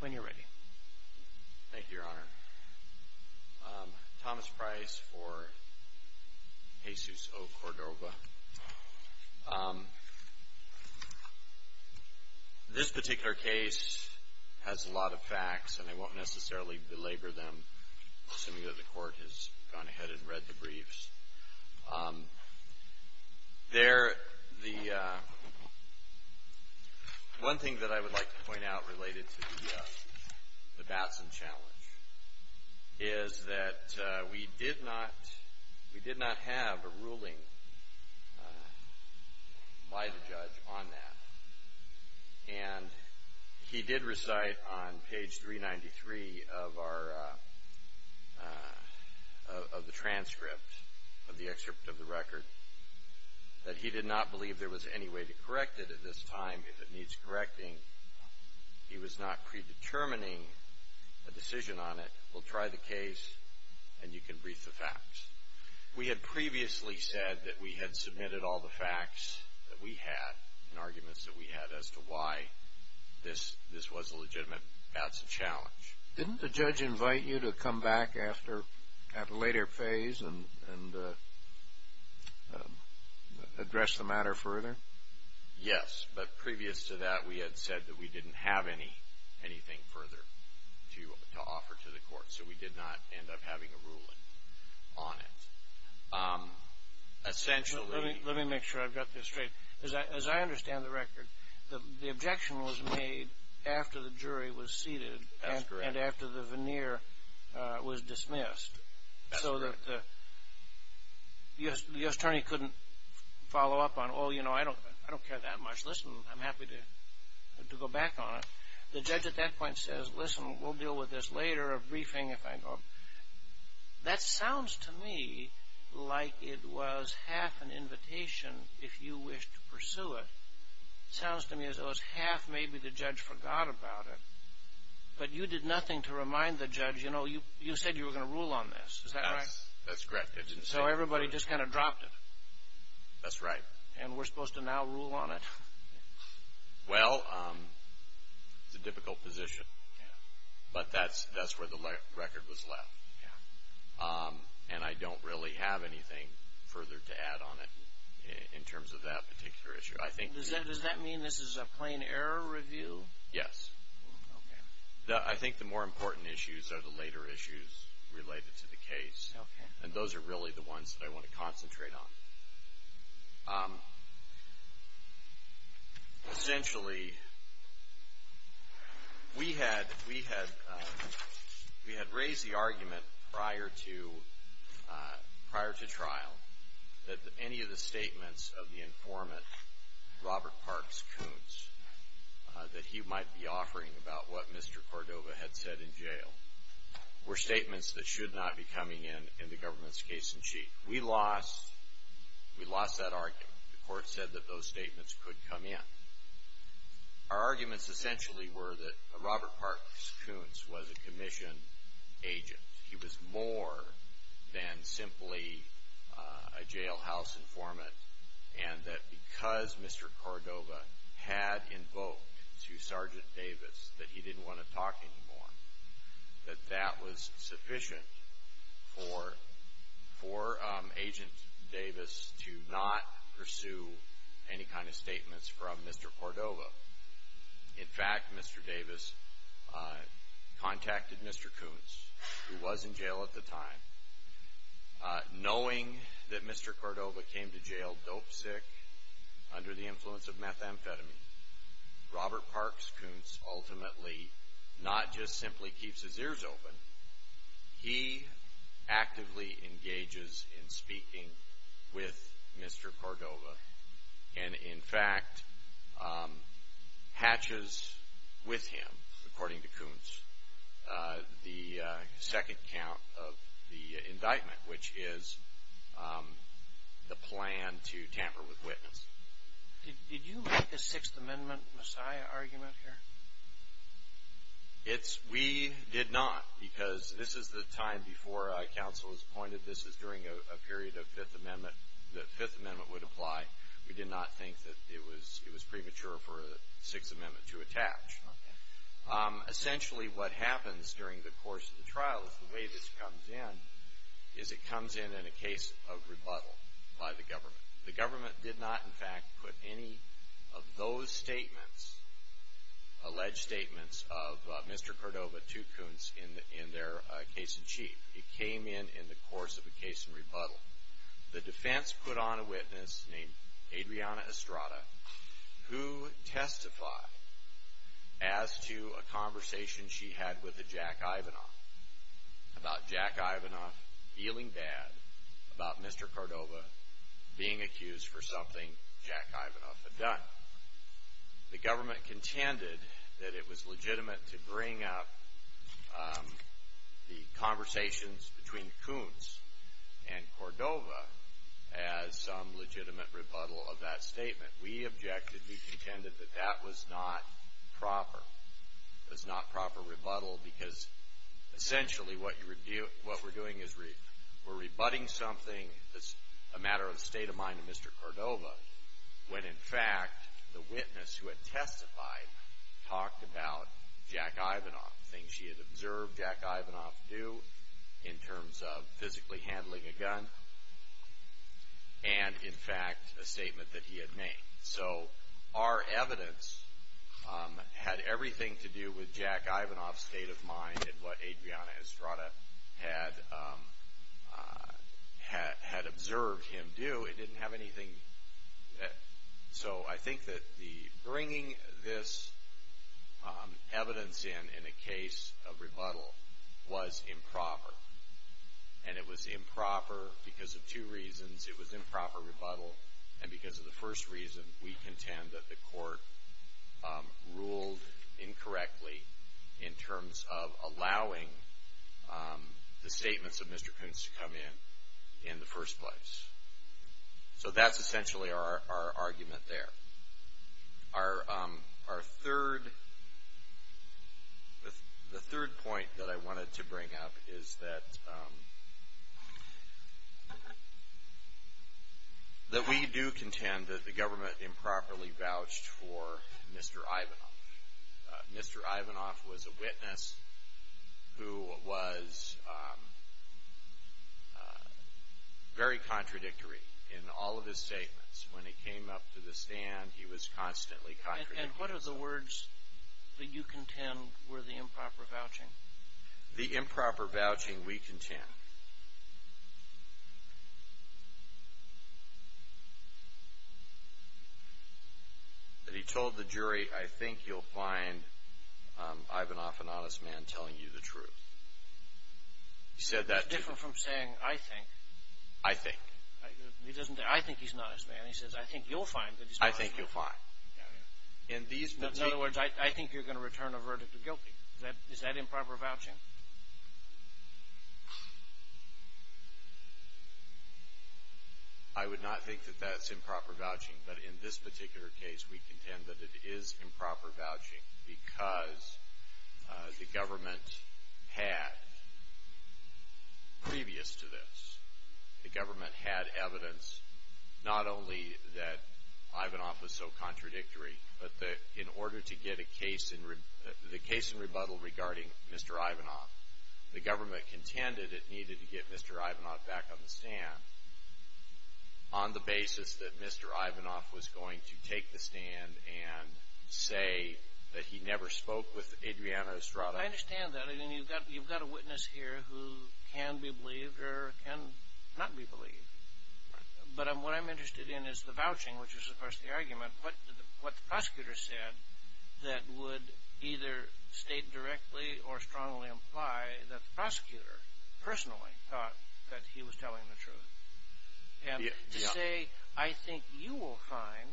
When you're ready. Thank you, Your Honor. Thomas Price for Jesus O. Cordova. This particular case has a lot of facts, and I won't necessarily belabor them, assuming that the Court has gone ahead and read the briefs. One thing that I would like to point out related to the Batson challenge is that we did not have a ruling by the judge on that. And he did recite on page 393 of the transcript, of the excerpt of the record, that he did not believe there was any way to correct it at this time. If it needs correcting, he was not predetermining a decision on it. We'll try the case, and you can brief the facts. We had previously said that we had submitted all the facts that we had, and arguments that we had as to why this was a legitimate Batson challenge. Didn't the judge invite you to come back at a later phase and address the matter further? Yes, but previous to that we had said that we didn't have anything further to offer to the Court, so we did not end up having a ruling on it. Let me make sure I've got this straight. As I understand the record, the objection was made after the jury was seated, and after the veneer was dismissed, so that the U.S. attorney couldn't follow up on, oh, you know, I don't care that much. Listen, I'm happy to go back on it. The judge at that point says, listen, we'll deal with this later, a briefing, if I go. That sounds to me like it was half an invitation if you wished to pursue it. It sounds to me as though it was half maybe the judge forgot about it, but you did nothing to remind the judge, you know, you said you were going to rule on this. Is that right? That's correct. So everybody just kind of dropped it. That's right. And we're supposed to now rule on it. Well, it's a difficult position, but that's where the record was left, and I don't really have anything further to add on it in terms of that particular issue. Does that mean this is a plain error review? Yes. Okay. I think the more important issues are the later issues related to the case, and those are really the ones that I want to concentrate on. Essentially, we had raised the argument prior to trial that any of the statements of the informant, Robert Parks Coons, that he might be offering about what Mr. Cordova had said in jail were statements that should not be coming in in the government's case in chief. We lost that argument. The court said that those statements could come in. Our arguments essentially were that Robert Parks Coons was a commission agent. He was more than simply a jailhouse informant, and that because Mr. Cordova had invoked to Sergeant Davis that he didn't want to talk anymore, that that was sufficient for Agent Davis to not pursue any kind of statements from Mr. Cordova. In fact, Mr. Davis contacted Mr. Coons, who was in jail at the time, knowing that Mr. Cordova came to jail dope sick under the influence of methamphetamine. Robert Parks Coons ultimately not just simply keeps his ears open. He actively engages in speaking with Mr. Cordova, and in fact hatches with him, according to Coons, the second count of the indictment, which is the plan to tamper with witness. Did you make a Sixth Amendment messiah argument here? We did not, because this is the time before counsel was appointed. This is during a period that the Fifth Amendment would apply. We did not think that it was premature for a Sixth Amendment to attach. Essentially, what happens during the course of the trial, the way this comes in, is it comes in in a case of rebuttal by the government. The government did not, in fact, put any of those statements, alleged statements of Mr. Cordova to Coons in their case in chief. It came in in the course of a case in rebuttal. The defense put on a witness named Adriana Estrada, who testified as to a conversation she had with Jack Ivanoff, about Jack Ivanoff feeling bad about Mr. Cordova being accused for something Jack Ivanoff had done. The government contended that it was legitimate to bring up the conversations between Coons and Cordova as some legitimate rebuttal of that statement. We objected. We contended that that was not proper. It was not proper rebuttal because, essentially, what we're doing is we're rebutting something that's a matter of state of mind to Mr. Cordova when, in fact, the witness who had testified talked about Jack Ivanoff, things she had observed Jack Ivanoff do in terms of physically handling a gun, and, in fact, a statement that he had made. So our evidence had everything to do with Jack Ivanoff's state of mind and what Adriana Estrada had observed him do. It didn't have anything. So I think that bringing this evidence in in a case of rebuttal was improper, and it was improper because of two reasons. It was improper rebuttal, and because of the first reason, we contend that the court ruled incorrectly in terms of allowing the statements of Mr. Coons to come in, in the first place. So that's essentially our argument there. Our third point that I wanted to bring up is that we do contend that the government improperly vouched for Mr. Ivanoff. Mr. Ivanoff was a witness who was very contradictory in all of his statements. When he came up to the stand, he was constantly contradictory. And what are the words that you contend were the improper vouching? The improper vouching we contend that he told the jury, I think you'll find Ivanoff an honest man telling you the truth. He said that to the jury. It's different from saying, I think. I think. He doesn't say, I think he's an honest man. He says, I think you'll find that he's an honest man. I think you'll find. In other words, I think you're going to return a verdict of guilty. Is that improper vouching? I would not think that that's improper vouching, but in this particular case, we contend that it is improper vouching because the government had, previous to this, the government had evidence not only that Ivanoff was so contradictory, but that in order to get a case in rebuttal regarding Mr. Ivanoff, the government contended it needed to get Mr. Ivanoff back on the stand on the basis that Mr. Ivanoff was going to take the stand and say that he never spoke with Adriana Estrada. I understand that. You've got a witness here who can be believed or can not be believed, but what I'm interested in is the vouching, which is, of course, the argument. What the prosecutor said that would either state directly or strongly imply that the prosecutor personally thought that he was telling the truth. To say, I think you will find,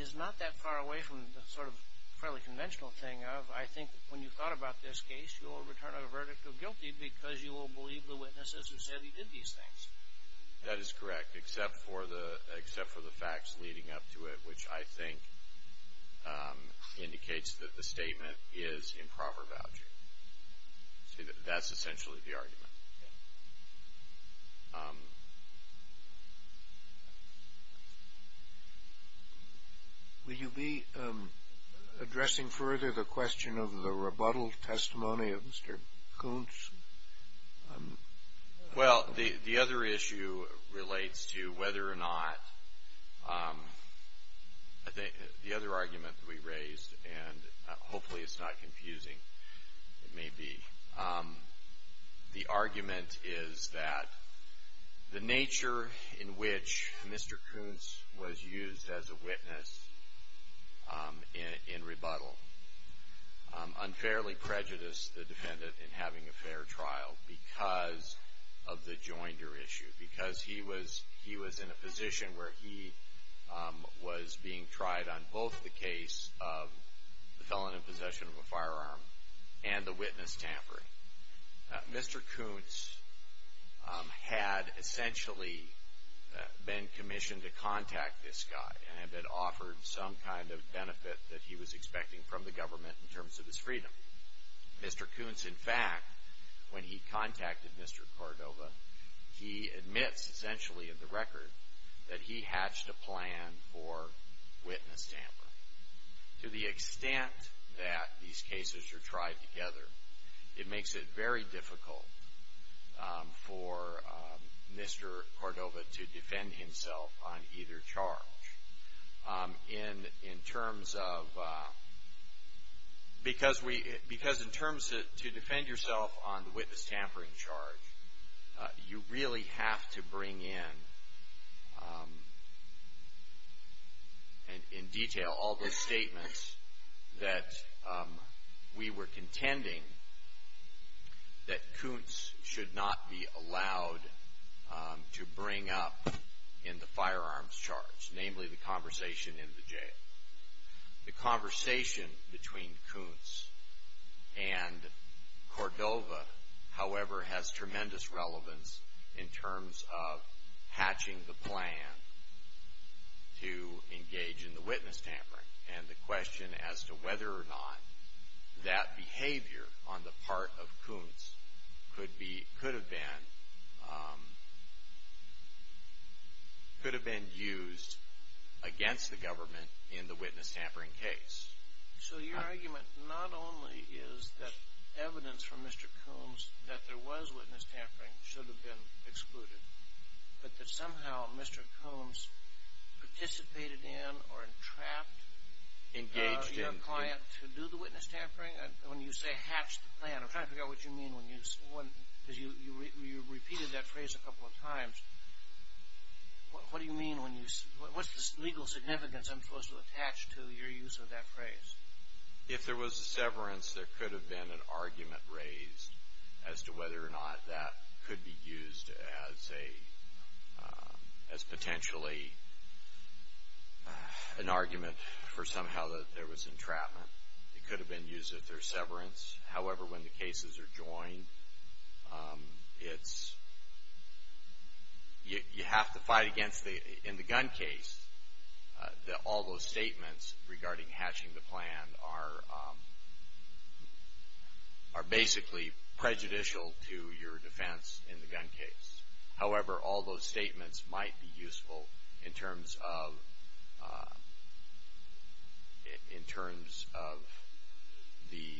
is not that far away from the sort of fairly conventional thing of, I think when you thought about this case, you will return a verdict of guilty because you will believe the witnesses who said he did these things. That is correct, except for the facts leading up to it, which I think indicates that the statement is improper vouching. That's essentially the argument. Will you be addressing further the question of the rebuttal testimony of Mr. Koontz? Well, the other issue relates to whether or not the other argument that we raised, and hopefully it's not confusing, it may be. The argument is that the nature in which Mr. Koontz was used as a witness in rebuttal unfairly prejudiced the defendant in having a fair trial because of the joinder issue, because he was in a position where he was being tried on both the case of the felon in possession of a firearm and the witness tampering. Mr. Koontz had essentially been commissioned to contact this guy and had been offered some kind of benefit that he was expecting from the government in terms of his freedom. Mr. Koontz, in fact, when he contacted Mr. Cordova, he admits essentially in the record that he hatched a plan for witness tampering. To the extent that these cases are tried together, it makes it very difficult for Mr. Cordova to defend himself on either charge. In terms of, because in terms to defend yourself on the witness tampering charge, you really have to bring in, in detail, all those statements that we were contending that Koontz should not be allowed to bring up in the firearms charge, namely the conversation in the jail. The conversation between Koontz and Cordova, however, has tremendous relevance in terms of hatching the plan to engage in the witness tampering. And the question as to whether or not that behavior on the part of Koontz could have been used against the government in the witness tampering case. So your argument not only is that evidence from Mr. Koontz that there was witness tampering should have been excluded, but that somehow Mr. Koontz participated in or entrapped your client to do the witness tampering? When you say hatch the plan, I'm trying to figure out what you mean when you, because you repeated that phrase a couple of times. What do you mean when you, what's the legal significance I'm supposed to attach to your use of that phrase? If there was a severance, there could have been an argument raised as to whether or not that could be used as a, as potentially an argument for somehow that there was entrapment. It could have been used as their severance. However, when the cases are joined, it's, you have to fight against the, in the gun case, all those statements regarding hatching the plan are basically prejudicial to your defense in the gun case. However, all those statements might be useful in terms of, in terms of the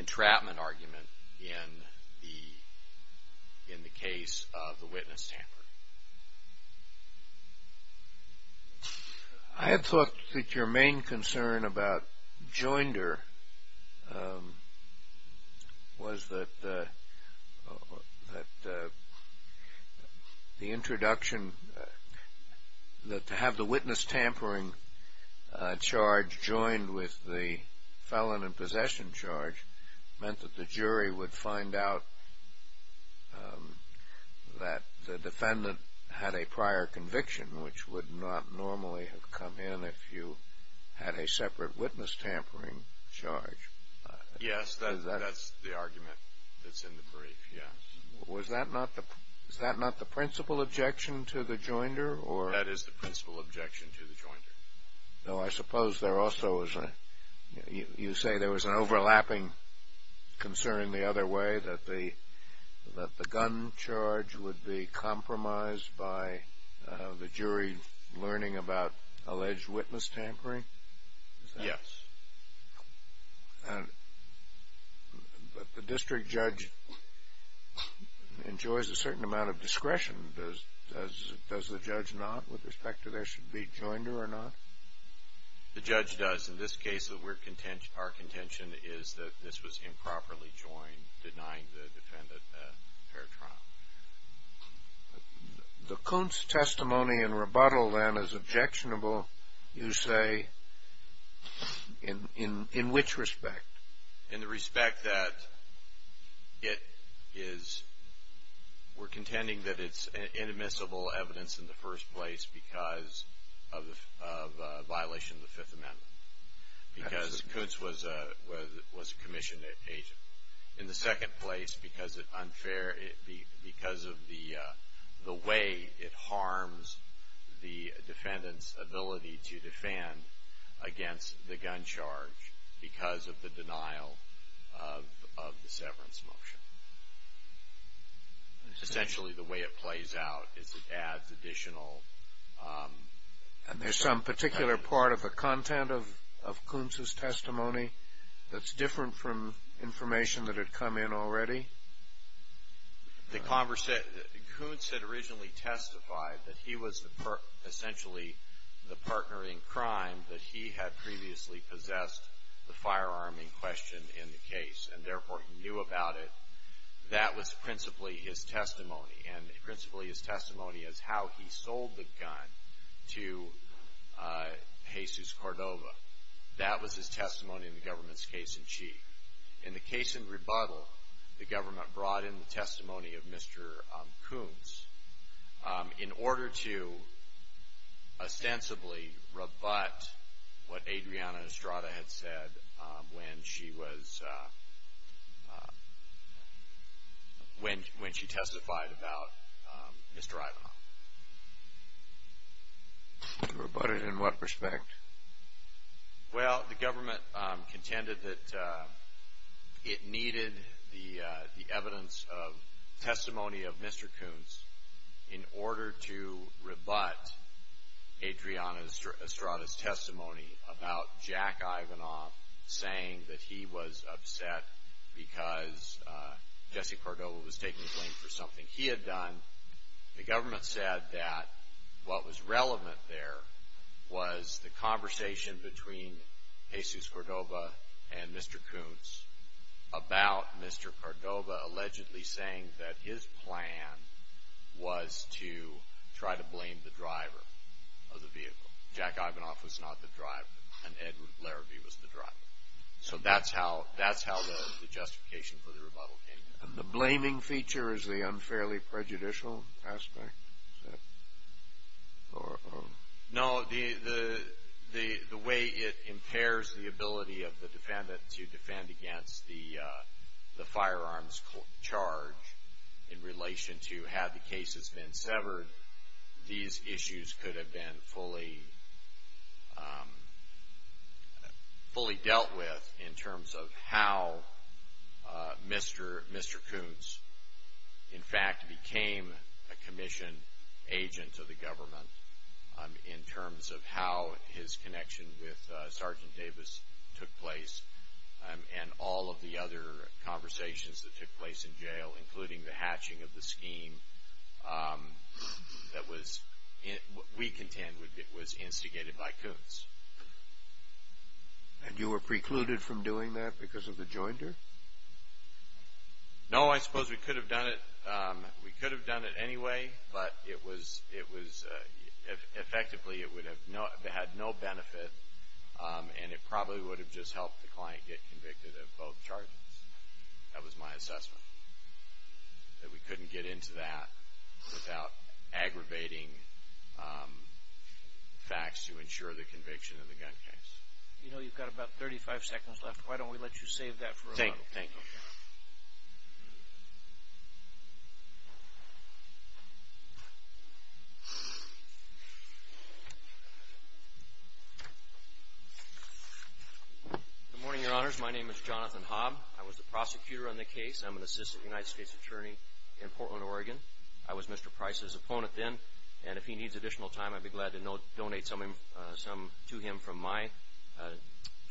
entrapment argument in the, in the case of the witness tampering. I had thought that your main concern about joinder was that, that the introduction, that to have the witness tampering charge joined with the felon in possession charge meant that the jury would find out that the defendant had a prior conviction, which would not normally have come in if you had a separate witness tampering charge. Yes, that's the argument that's in the brief, yes. Was that not the, is that not the principal objection to the joinder or? That is the principal objection to the joinder. Though I suppose there also is a, you say there was an overlapping concern the other way, that the, that the gun charge would be compromised by the jury learning about alleged witness tampering? Yes. And, but the district judge enjoys a certain amount of discretion. Does the judge not, with respect to there should be joinder or not? The judge does. In this case, our contention is that this was improperly joined, denying the defendant a fair trial. The Kuntz testimony in rebuttal then is objectionable, you say, in which respect? In the respect that it is, we're contending that it's inadmissible evidence in the first place because of a violation of the Fifth Amendment. Because Kuntz was a commissioned agent. In the second place, because it unfair, because of the way it harms the defendant's ability to defend against the gun charge because of the denial of the severance motion. Essentially the way it plays out is it adds additional. And there's some particular part of the content of Kuntz's testimony that's different from information that had come in already? The Kuntz had originally testified that he was essentially the partner in crime that he had previously possessed the firearm in question in the case. And, therefore, he knew about it. That was principally his testimony. And principally his testimony is how he sold the gun to Jesus Cordova. That was his testimony in the government's case in chief. In the case in rebuttal, the government brought in the testimony of Mr. Kuntz in order to ostensibly rebut what Adriana Estrada had said when she testified about Mr. Ivanov. Rebutted in what respect? Well, the government contended that it needed the evidence of testimony of Mr. Kuntz in order to rebut Adriana Estrada's testimony about Jack Ivanov saying that he was upset because Jesse Cordova was taking the blame for something he had done. The government said that what was relevant there was the conversation between Jesus Cordova and Mr. Kuntz about Mr. Cordova allegedly saying that his plan was to try to blame the driver of the vehicle. Jack Ivanov was not the driver. And Edward Larrabee was the driver. So that's how the justification for the rebuttal came in. And the blaming feature is the unfairly prejudicial aspect? No, the way it impairs the ability of the defendant to defend against the firearms charge in relation to have the case has been severed, these issues could have been fully dealt with in terms of how Mr. Kuntz in fact became a commission agent to the government in terms of how his connection with Sergeant Davis took place and all of the other conversations that took place in jail, including the hatching of the scheme that we contend was instigated by Kuntz. And you were precluded from doing that because of the jointer? No, I suppose we could have done it. We could have done it anyway, but effectively it would have had no benefit and it probably would have just helped the client get convicted of both charges. That was my assessment, that we couldn't get into that without aggravating facts to ensure the conviction of the gun case. You know you've got about 35 seconds left. Why don't we let you save that for a rebuttal? Thank you. Good morning, Your Honors. My name is Jonathan Hobb. I was the prosecutor on the case. I'm an assistant United States attorney in Portland, Oregon. I was Mr. Price's opponent then, and if he needs additional time, I'd be glad to donate some to him from my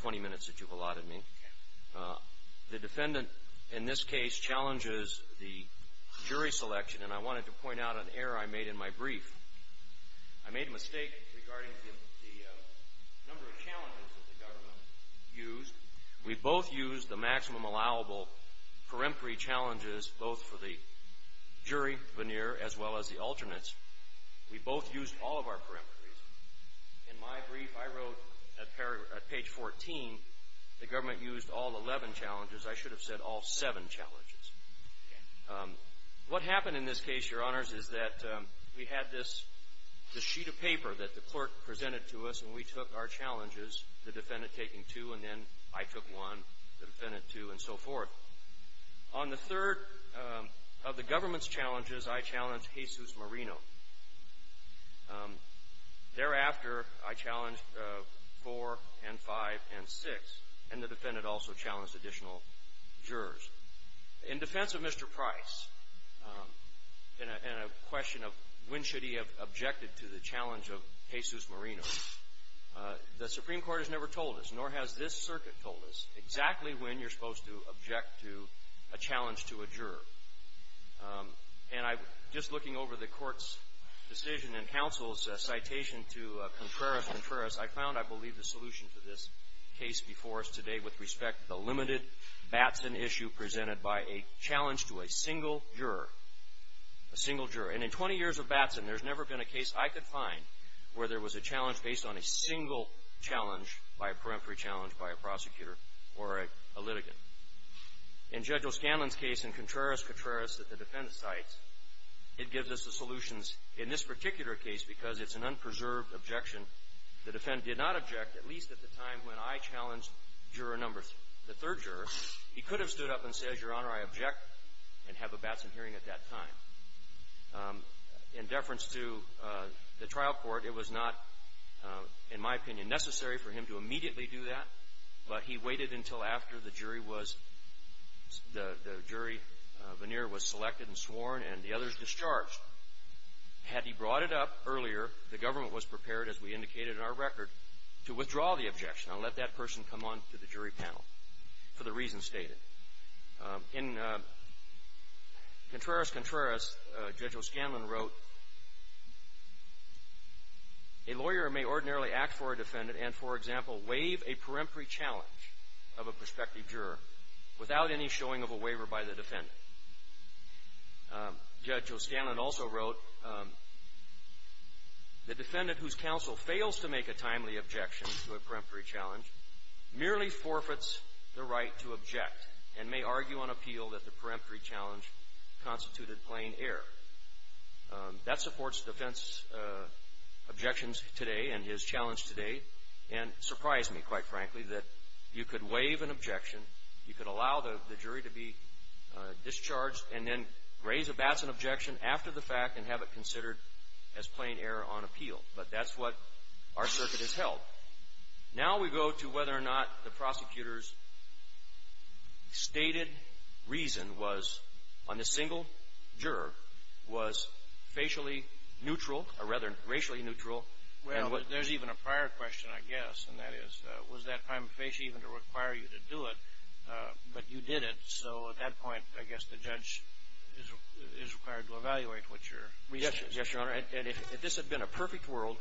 20 minutes that you've allotted me. The defendant in this case challenges the jury selection, and I wanted to point out an error I made in my brief. I made a mistake regarding the number of challenges that the government used. We both used the maximum allowable peremptory challenges, both for the jury veneer as well as the alternates. We both used all of our peremptories. In my brief I wrote at page 14 the government used all 11 challenges. I should have said all seven challenges. What happened in this case, Your Honors, is that we had this sheet of paper that the clerk presented to us, and we took our challenges, the defendant taking two, and then I took one, the defendant two, and so forth. On the third of the government's challenges, I challenged Jesus Marino. Thereafter, I challenged four and five and six, and the defendant also challenged additional jurors. In defense of Mr. Price and a question of when should he have objected to the challenge of Jesus Marino, the Supreme Court has never told us, nor has this circuit told us, exactly when you're supposed to object to a challenge to a juror. And just looking over the Court's decision and counsel's citation to Contreras-Contreras, I found, I believe, the solution to this case before us today with respect to the limited Batson issue presented by a challenge to a single juror. A single juror. And in 20 years of Batson, there's never been a case I could find where there was a challenge based on a single challenge by a peremptory challenge by a prosecutor or a litigant. In Judge O'Scanlan's case in Contreras-Contreras that the defendant cites, it gives us the solutions in this particular case because it's an unpreserved objection. The defendant did not object, at least at the time when I challenged juror number three. The third juror, he could have stood up and said, Your Honor, I object and have a Batson hearing at that time. In deference to the trial court, it was not, in my opinion, necessary for him to immediately do that, but he waited until after the jury was, the jury veneer was selected and sworn and the others discharged. Had he brought it up earlier, the government was prepared, as we indicated in our record, to withdraw the objection and let that person come on to the jury panel for the reasons stated. In Contreras-Contreras, Judge O'Scanlan wrote, A lawyer may ordinarily act for a defendant and, for example, waive a peremptory challenge of a prospective juror without any showing of a waiver by the defendant. Judge O'Scanlan also wrote, The defendant whose counsel fails to make a timely objection to a peremptory challenge merely forfeits the right to object and may argue on appeal that the peremptory challenge constituted plain error. That supports defense objections today and his challenge today and surprised me, quite frankly, that you could waive an objection, you could allow the jury to be discharged and then raise a Batson objection after the fact and have it considered as plain error on appeal. But that's what our circuit has held. Now we go to whether or not the prosecutor's stated reason was, on a single juror, was facially neutral or rather racially neutral. Well, there's even a prior question, I guess, and that is, was that time of face even to require you to do it? But you did it. So at that point, I guess the judge is required to evaluate what your reason is. Yes, Your Honor. And if this had been a perfect world,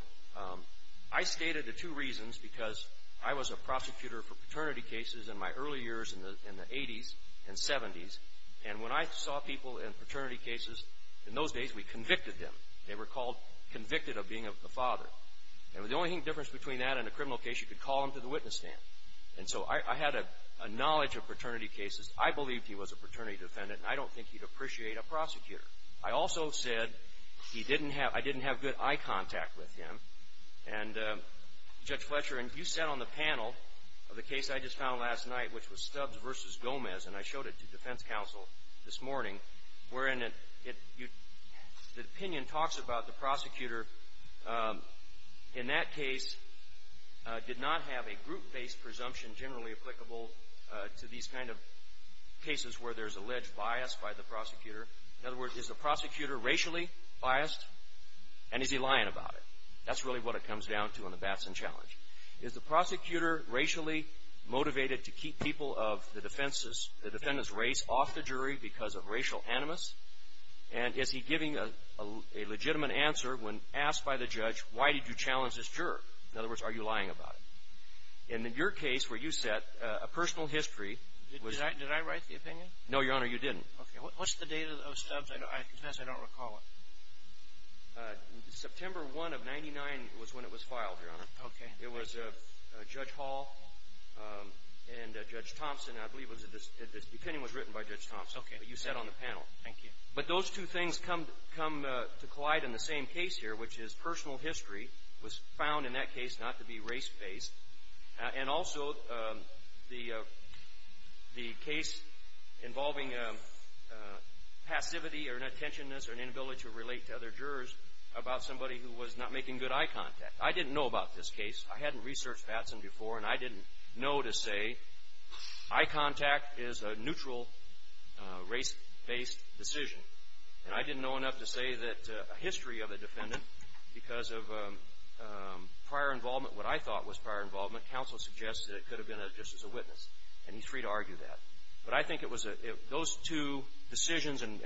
I stated the two reasons because I was a prosecutor for paternity cases in my early years in the 80s and 70s. And when I saw people in paternity cases, in those days we convicted them. They were called convicted of being a father. And the only difference between that and a criminal case, you could call them to the witness stand. And so I had a knowledge of paternity cases. I believed he was a paternity defendant, and I don't think he'd appreciate a prosecutor. I also said I didn't have good eye contact with him. And Judge Fletcher, you sat on the panel of the case I just found last night, which was Stubbs v. Gomez, and I showed it to defense counsel this morning, wherein the opinion talks about the prosecutor, in that case, did not have a group-based presumption generally applicable to these kind of cases where there's alleged bias by the prosecutor. In other words, is the prosecutor racially biased, and is he lying about it? That's really what it comes down to in the Batson Challenge. Is the prosecutor racially motivated to keep people of the defendant's race off the jury because of racial animus? And is he giving a legitimate answer when asked by the judge, why did you challenge this juror? In other words, are you lying about it? And in your case where you sat, a personal history was – Did I write the opinion? No, Your Honor, you didn't. Okay. What's the date of Stubbs? I guess I don't recall it. September 1 of 99 was when it was filed, Your Honor. Okay. It was Judge Hall and Judge Thompson. I believe the opinion was written by Judge Thompson. Okay. You sat on the panel. Thank you. But those two things come to collide in the same case here, which is personal history was found in that case not to be race-based, and also the case involving passivity or an attention-ness or an inability to relate to other jurors about somebody who was not making good eye contact. I didn't know about this case. I hadn't researched Batson before, and I didn't know to say, eye contact is a neutral race-based decision. And I didn't know enough to say that a history of a defendant because of prior involvement, what I thought was prior involvement, counsel suggests that it could have been just as a witness, and he's free to argue that. But I think it was – those two decisions and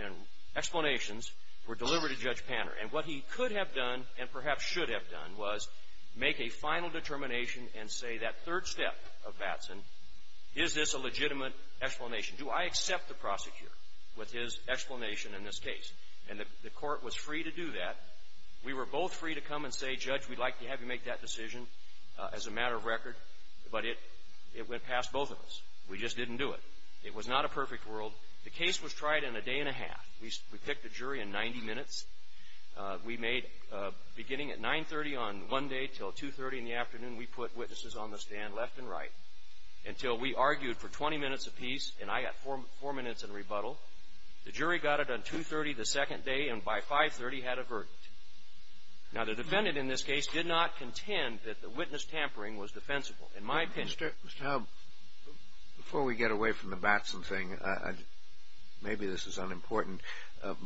explanations were delivered to Judge Panner. And what he could have done and perhaps should have done was make a final determination and say that third step of Batson, is this a legitimate explanation? Do I accept the prosecutor with his explanation in this case? And the court was free to do that. We were both free to come and say, Judge, we'd like to have you make that decision as a matter of record. But it went past both of us. We just didn't do it. It was not a perfect world. The case was tried in a day and a half. We picked a jury in 90 minutes. We made – beginning at 9.30 on one day until 2.30 in the afternoon, we put witnesses on the stand left and right until we argued for 20 minutes apiece, and I got four minutes in rebuttal. The jury got it on 2.30 the second day, and by 5.30 had a verdict. Now, the defendant in this case did not contend that the witness tampering was defensible, in my opinion. Mr. Howell, before we get away from the Batson thing, maybe this is unimportant,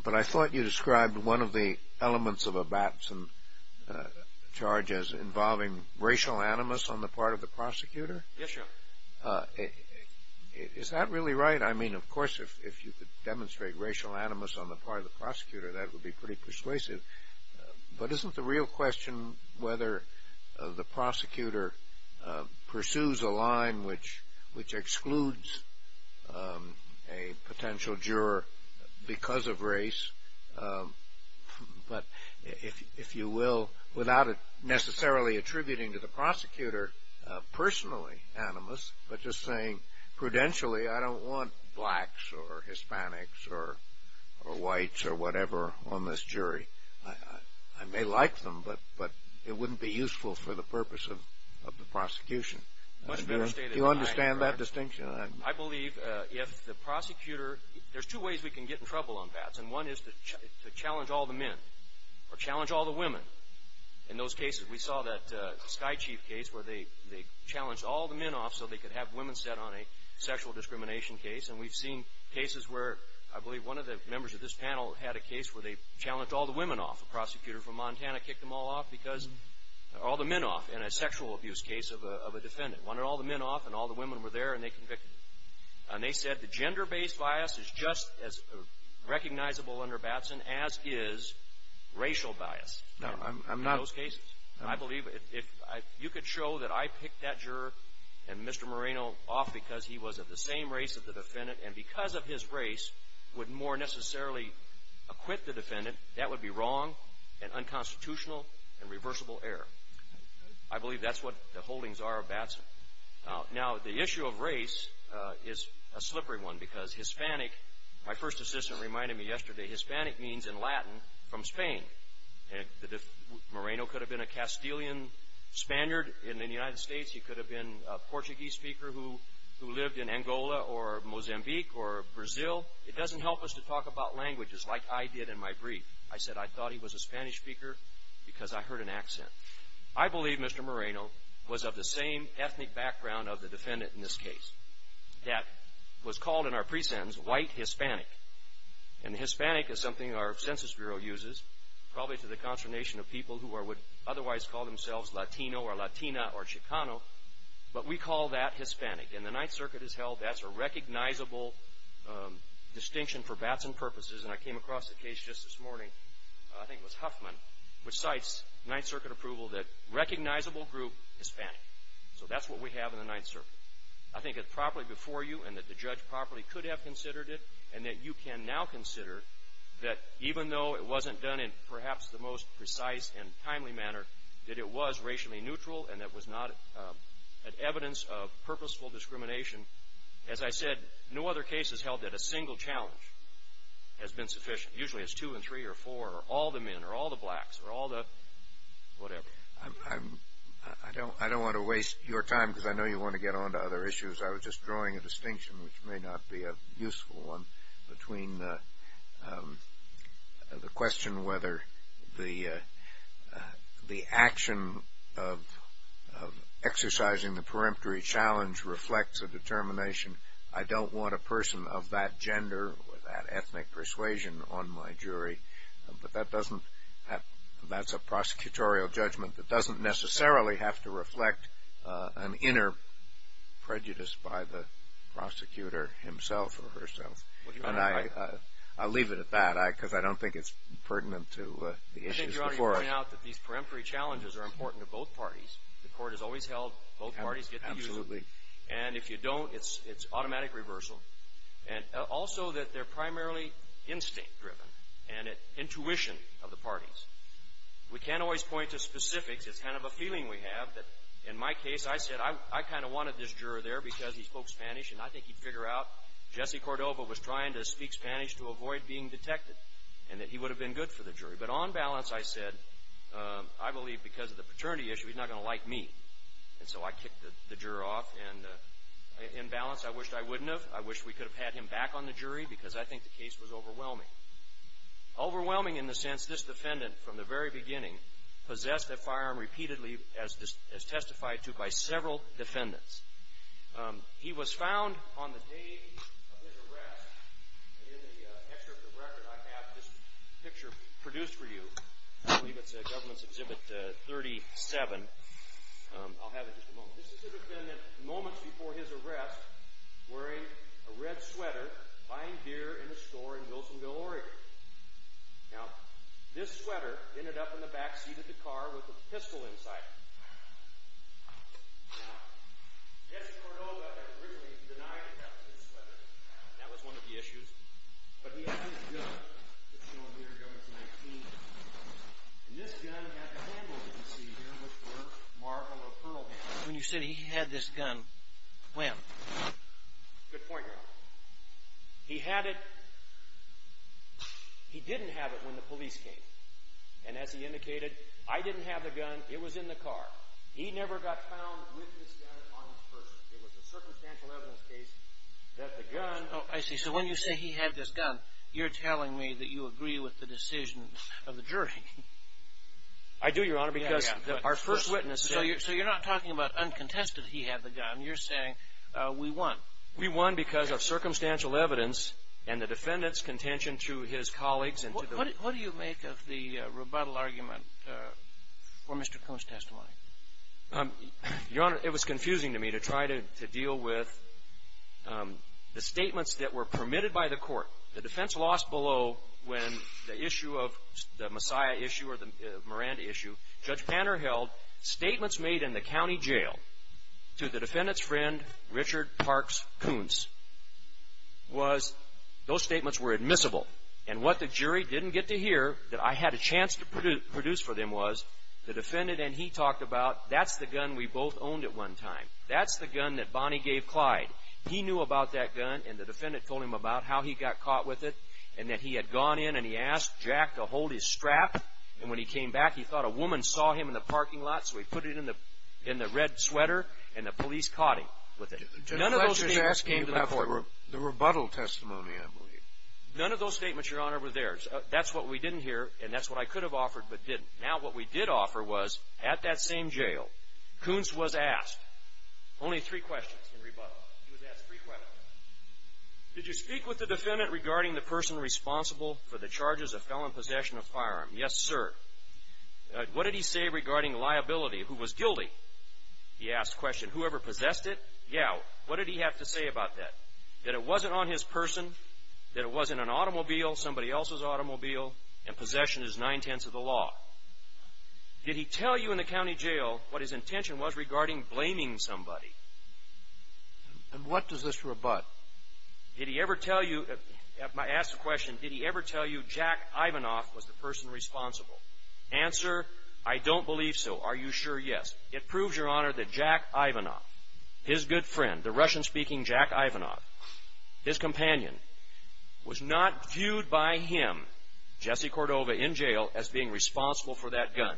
but I thought you described one of the elements of a Batson charge as involving racial animus on the part of the prosecutor. Yes, Your Honor. Is that really right? I mean, of course, if you could demonstrate racial animus on the part of the prosecutor, that would be pretty persuasive. But isn't the real question whether the prosecutor pursues a line which excludes a potential juror because of race, but if you will, without necessarily attributing to the prosecutor personally animus, but just saying, prudentially, I don't want blacks or Hispanics or whites or whatever on this jury. I may like them, but it wouldn't be useful for the purpose of the prosecution. Do you understand that distinction? I believe if the prosecutor – there's two ways we can get in trouble on Batson. One is to challenge all the men or challenge all the women. In those cases, we saw that Sky Chief case where they challenged all the men off so they could have women set on a sexual discrimination case. And we've seen cases where I believe one of the members of this panel had a case where they challenged all the women off. A prosecutor from Montana kicked them all off because – all the men off in a sexual abuse case of a defendant. Wanted all the men off, and all the women were there, and they convicted them. And they said the gender-based bias is just as recognizable under Batson as is racial bias. Now, I'm not – In those cases. And I believe if you could show that I picked that juror and Mr. Moreno off because he was of the same race as the defendant and because of his race would more necessarily acquit the defendant, that would be wrong and unconstitutional and reversible error. I believe that's what the holdings are of Batson. Now, the issue of race is a slippery one because Hispanic – my first assistant reminded me yesterday – Moreno could have been a Castilian Spaniard in the United States. He could have been a Portuguese speaker who lived in Angola or Mozambique or Brazil. It doesn't help us to talk about languages like I did in my brief. I said I thought he was a Spanish speaker because I heard an accent. I believe Mr. Moreno was of the same ethnic background of the defendant in this case. That was called in our precense white Hispanic. And Hispanic is something our Census Bureau uses probably to the consternation of people who would otherwise call themselves Latino or Latina or Chicano. But we call that Hispanic. And the Ninth Circuit has held that's a recognizable distinction for Batson purposes. And I came across the case just this morning – I think it was Huffman – which cites Ninth Circuit approval that recognizable group Hispanic. So that's what we have in the Ninth Circuit. I think it's properly before you and that the judge properly could have considered it. And that you can now consider that even though it wasn't done in perhaps the most precise and timely manner, that it was racially neutral and that it was not an evidence of purposeful discrimination. As I said, no other case has held that a single challenge has been sufficient. Usually it's two and three or four or all the men or all the blacks or all the whatever. I don't want to waste your time because I know you want to get on to other issues. I was just drawing a distinction, which may not be a useful one, between the question whether the action of exercising the peremptory challenge reflects a determination. I don't want a person of that gender or that ethnic persuasion on my jury. But that's a prosecutorial judgment that doesn't necessarily have to reflect an inner prejudice by the prosecutor himself or herself. I'll leave it at that because I don't think it's pertinent to the issues before us. I think you're already pointing out that these peremptory challenges are important to both parties. The court has always held both parties get the usual. Absolutely. And if you don't, it's automatic reversal. Also that they're primarily instinct-driven and intuition of the parties. We can't always point to specifics. It's kind of a feeling we have that in my case, I said I kind of wanted this juror there because he spoke Spanish. And I think he'd figure out Jesse Cordova was trying to speak Spanish to avoid being detected and that he would have been good for the jury. But on balance, I said I believe because of the paternity issue, he's not going to like me. And so I kicked the juror off. And in balance, I wished I wouldn't have. I wish we could have had him back on the jury because I think the case was overwhelming. Overwhelming in the sense this defendant from the very beginning possessed a firearm repeatedly as testified to by several defendants. He was found on the day of his arrest. And in the excerpt of the record, I have this picture produced for you. I believe it's a government's Exhibit 37. I'll have it in just a moment. This is the defendant moments before his arrest wearing a red sweater, buying beer in a store in Wilsonville, Oregon. Now, this sweater ended up in the backseat of the car with a pistol inside. Now, Jesse Cordova had originally denied to have this sweater. That was one of the issues. But he had this gun that's shown here, government's 19. And this gun had the handle that you see here with the marble or pearl handle. When you said he had this gun, when? Good point, Your Honor. He had it. He didn't have it when the police came. And as he indicated, I didn't have the gun. It was in the car. He never got found with this gun on his person. It was a circumstantial evidence case that the gun – Oh, I see. So when you say he had this gun, you're telling me that you agree with the decision of the jury. I do, Your Honor, because our first witness said – So you're not talking about uncontested he had the gun. You're saying we won. We won because of circumstantial evidence and the defendant's contention to his colleagues and to the – What do you make of the rebuttal argument for Mr. Coon's testimony? Your Honor, it was confusing to me to try to deal with the statements that were permitted by the court. The defense lost below when the issue of – the Messiah issue or the Miranda issue, Judge Panner held statements made in the county jail to the defendant's friend, Richard Parks Coons, was – those statements were admissible. And what the jury didn't get to hear that I had a chance to produce for them was the defendant and he talked about that's the gun we both owned at one time. That's the gun that Bonnie gave Clyde. He knew about that gun, and the defendant told him about how he got caught with it and that he had gone in and he asked Jack to hold his strap, and when he came back he thought a woman saw him in the parking lot, so he put it in the red sweater, and the police caught him with it. None of those statements came to the court. The rebuttal testimony, I believe. None of those statements, Your Honor, were theirs. That's what we didn't hear, and that's what I could have offered but didn't. Now what we did offer was at that same jail, Coons was asked only three questions in rebuttal. He was asked three questions. Did you speak with the defendant regarding the person responsible for the charges of felon possession of firearm? Yes, sir. What did he say regarding liability? Who was guilty? He asked the question. Whoever possessed it? Yeah. What did he have to say about that? That it wasn't on his person, that it wasn't an automobile, somebody else's automobile, and possession is nine-tenths of the law. Did he tell you in the county jail what his intention was regarding blaming somebody? And what does this rebut? Did he ever tell you – asked the question, did he ever tell you Jack Ivanoff was the person responsible? Answer, I don't believe so. Are you sure? Yes. It proves, Your Honor, that Jack Ivanoff, his good friend, the Russian-speaking Jack Ivanoff, his companion, was not viewed by him, Jesse Cordova, in jail as being responsible for that gun.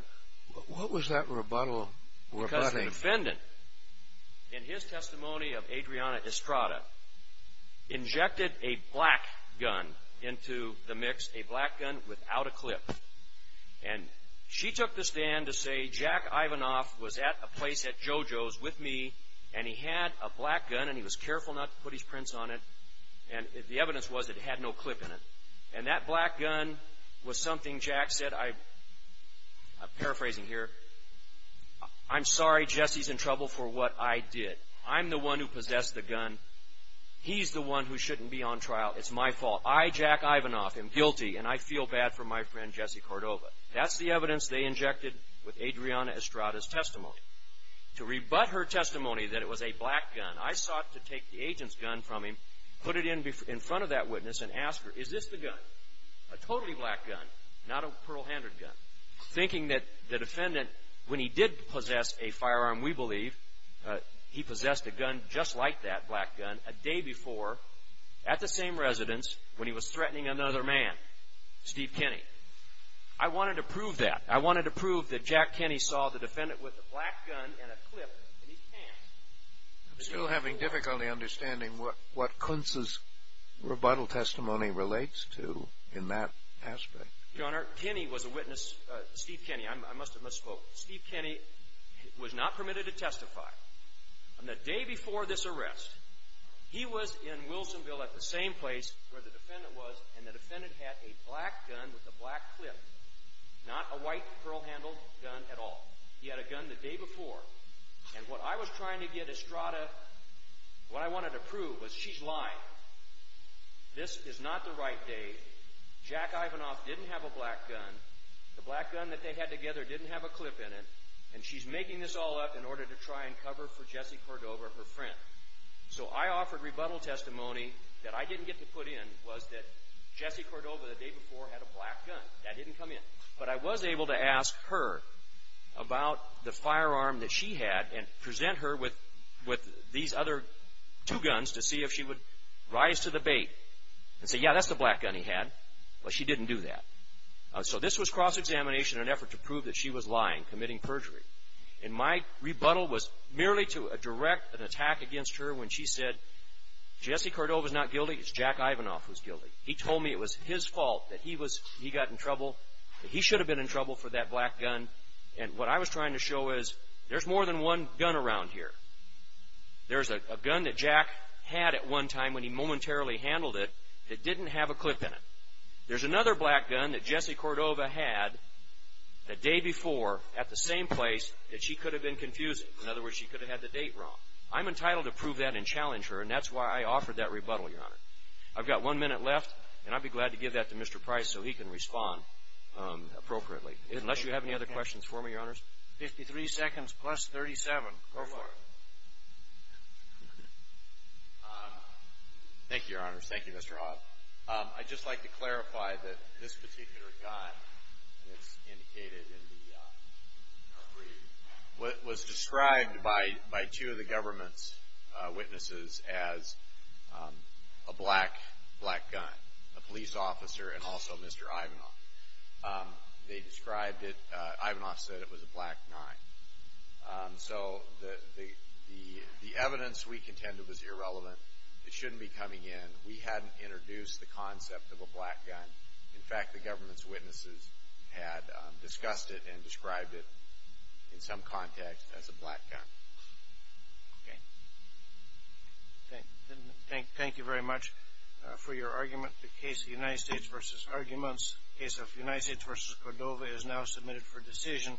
What was that rebuttal? Because the defendant, in his testimony of Adriana Estrada, injected a black gun into the mix, a black gun without a clip. And she took the stand to say Jack Ivanoff was at a place at JoJo's with me, and he had a black gun, and he was careful not to put his prints on it, and the evidence was it had no clip in it. And that black gun was something Jack said, I'm paraphrasing here, I'm sorry, Jesse's in trouble for what I did. I'm the one who possessed the gun. He's the one who shouldn't be on trial. It's my fault. I, Jack Ivanoff, am guilty, and I feel bad for my friend, Jesse Cordova. That's the evidence they injected with Adriana Estrada's testimony. To rebut her testimony that it was a black gun, I sought to take the agent's gun from him, put it in front of that witness, and ask her, Is this the gun? A totally black gun, not a pearl-handed gun. Thinking that the defendant, when he did possess a firearm, we believe, he possessed a gun just like that, a black gun, a day before, at the same residence, when he was threatening another man, Steve Kenney. I wanted to prove that. I wanted to prove that Jack Kenney saw the defendant with a black gun and a clip in his pants. I'm still having difficulty understanding what Kuntz's rebuttal testimony relates to in that aspect. Your Honor, Kenney was a witness, Steve Kenney. I must have misspoke. Steve Kenney was not permitted to testify. On the day before this arrest, he was in Wilsonville at the same place where the defendant was, and the defendant had a black gun with a black clip, not a white pearl-handled gun at all. He had a gun the day before, and what I was trying to get Estrada, what I wanted to prove was she's lying. This is not the right day. Jack Ivanoff didn't have a black gun. The black gun that they had together didn't have a clip in it, and she's making this all up in order to try and cover for Jesse Cordova, her friend. So I offered rebuttal testimony that I didn't get to put in, was that Jesse Cordova, the day before, had a black gun. That didn't come in. But I was able to ask her about the firearm that she had and present her with these other two guns to see if she would rise to the bait and say, yeah, that's the black gun he had. Well, she didn't do that. So this was cross-examination in an effort to prove that she was lying, committing perjury. And my rebuttal was merely to direct an attack against her when she said, he told me it was his fault that he got in trouble, that he should have been in trouble for that black gun. And what I was trying to show is there's more than one gun around here. There's a gun that Jack had at one time when he momentarily handled it that didn't have a clip in it. There's another black gun that Jesse Cordova had the day before at the same place that she could have been confusing. In other words, she could have had the date wrong. I'm entitled to prove that and challenge her, and that's why I offered that rebuttal, Your Honor. I've got one minute left, and I'd be glad to give that to Mr. Price so he can respond appropriately, unless you have any other questions for me, Your Honors. Fifty-three seconds plus 37. Go for it. Thank you, Your Honors. Thank you, Mr. Hobbs. I'd just like to clarify that this particular gun, as indicated in the brief, was described by two of the government's witnesses as a black gun, a police officer and also Mr. Ivanoff. They described it, Ivanoff said it was a black nine. So the evidence we contended was irrelevant. It shouldn't be coming in. We hadn't introduced the concept of a black gun. In fact, the government's witnesses had discussed it and described it in some context as a black gun. Okay. Thank you very much for your argument. The case of the United States v. Arguments, case of the United States v. Cordova is now submitted for decision.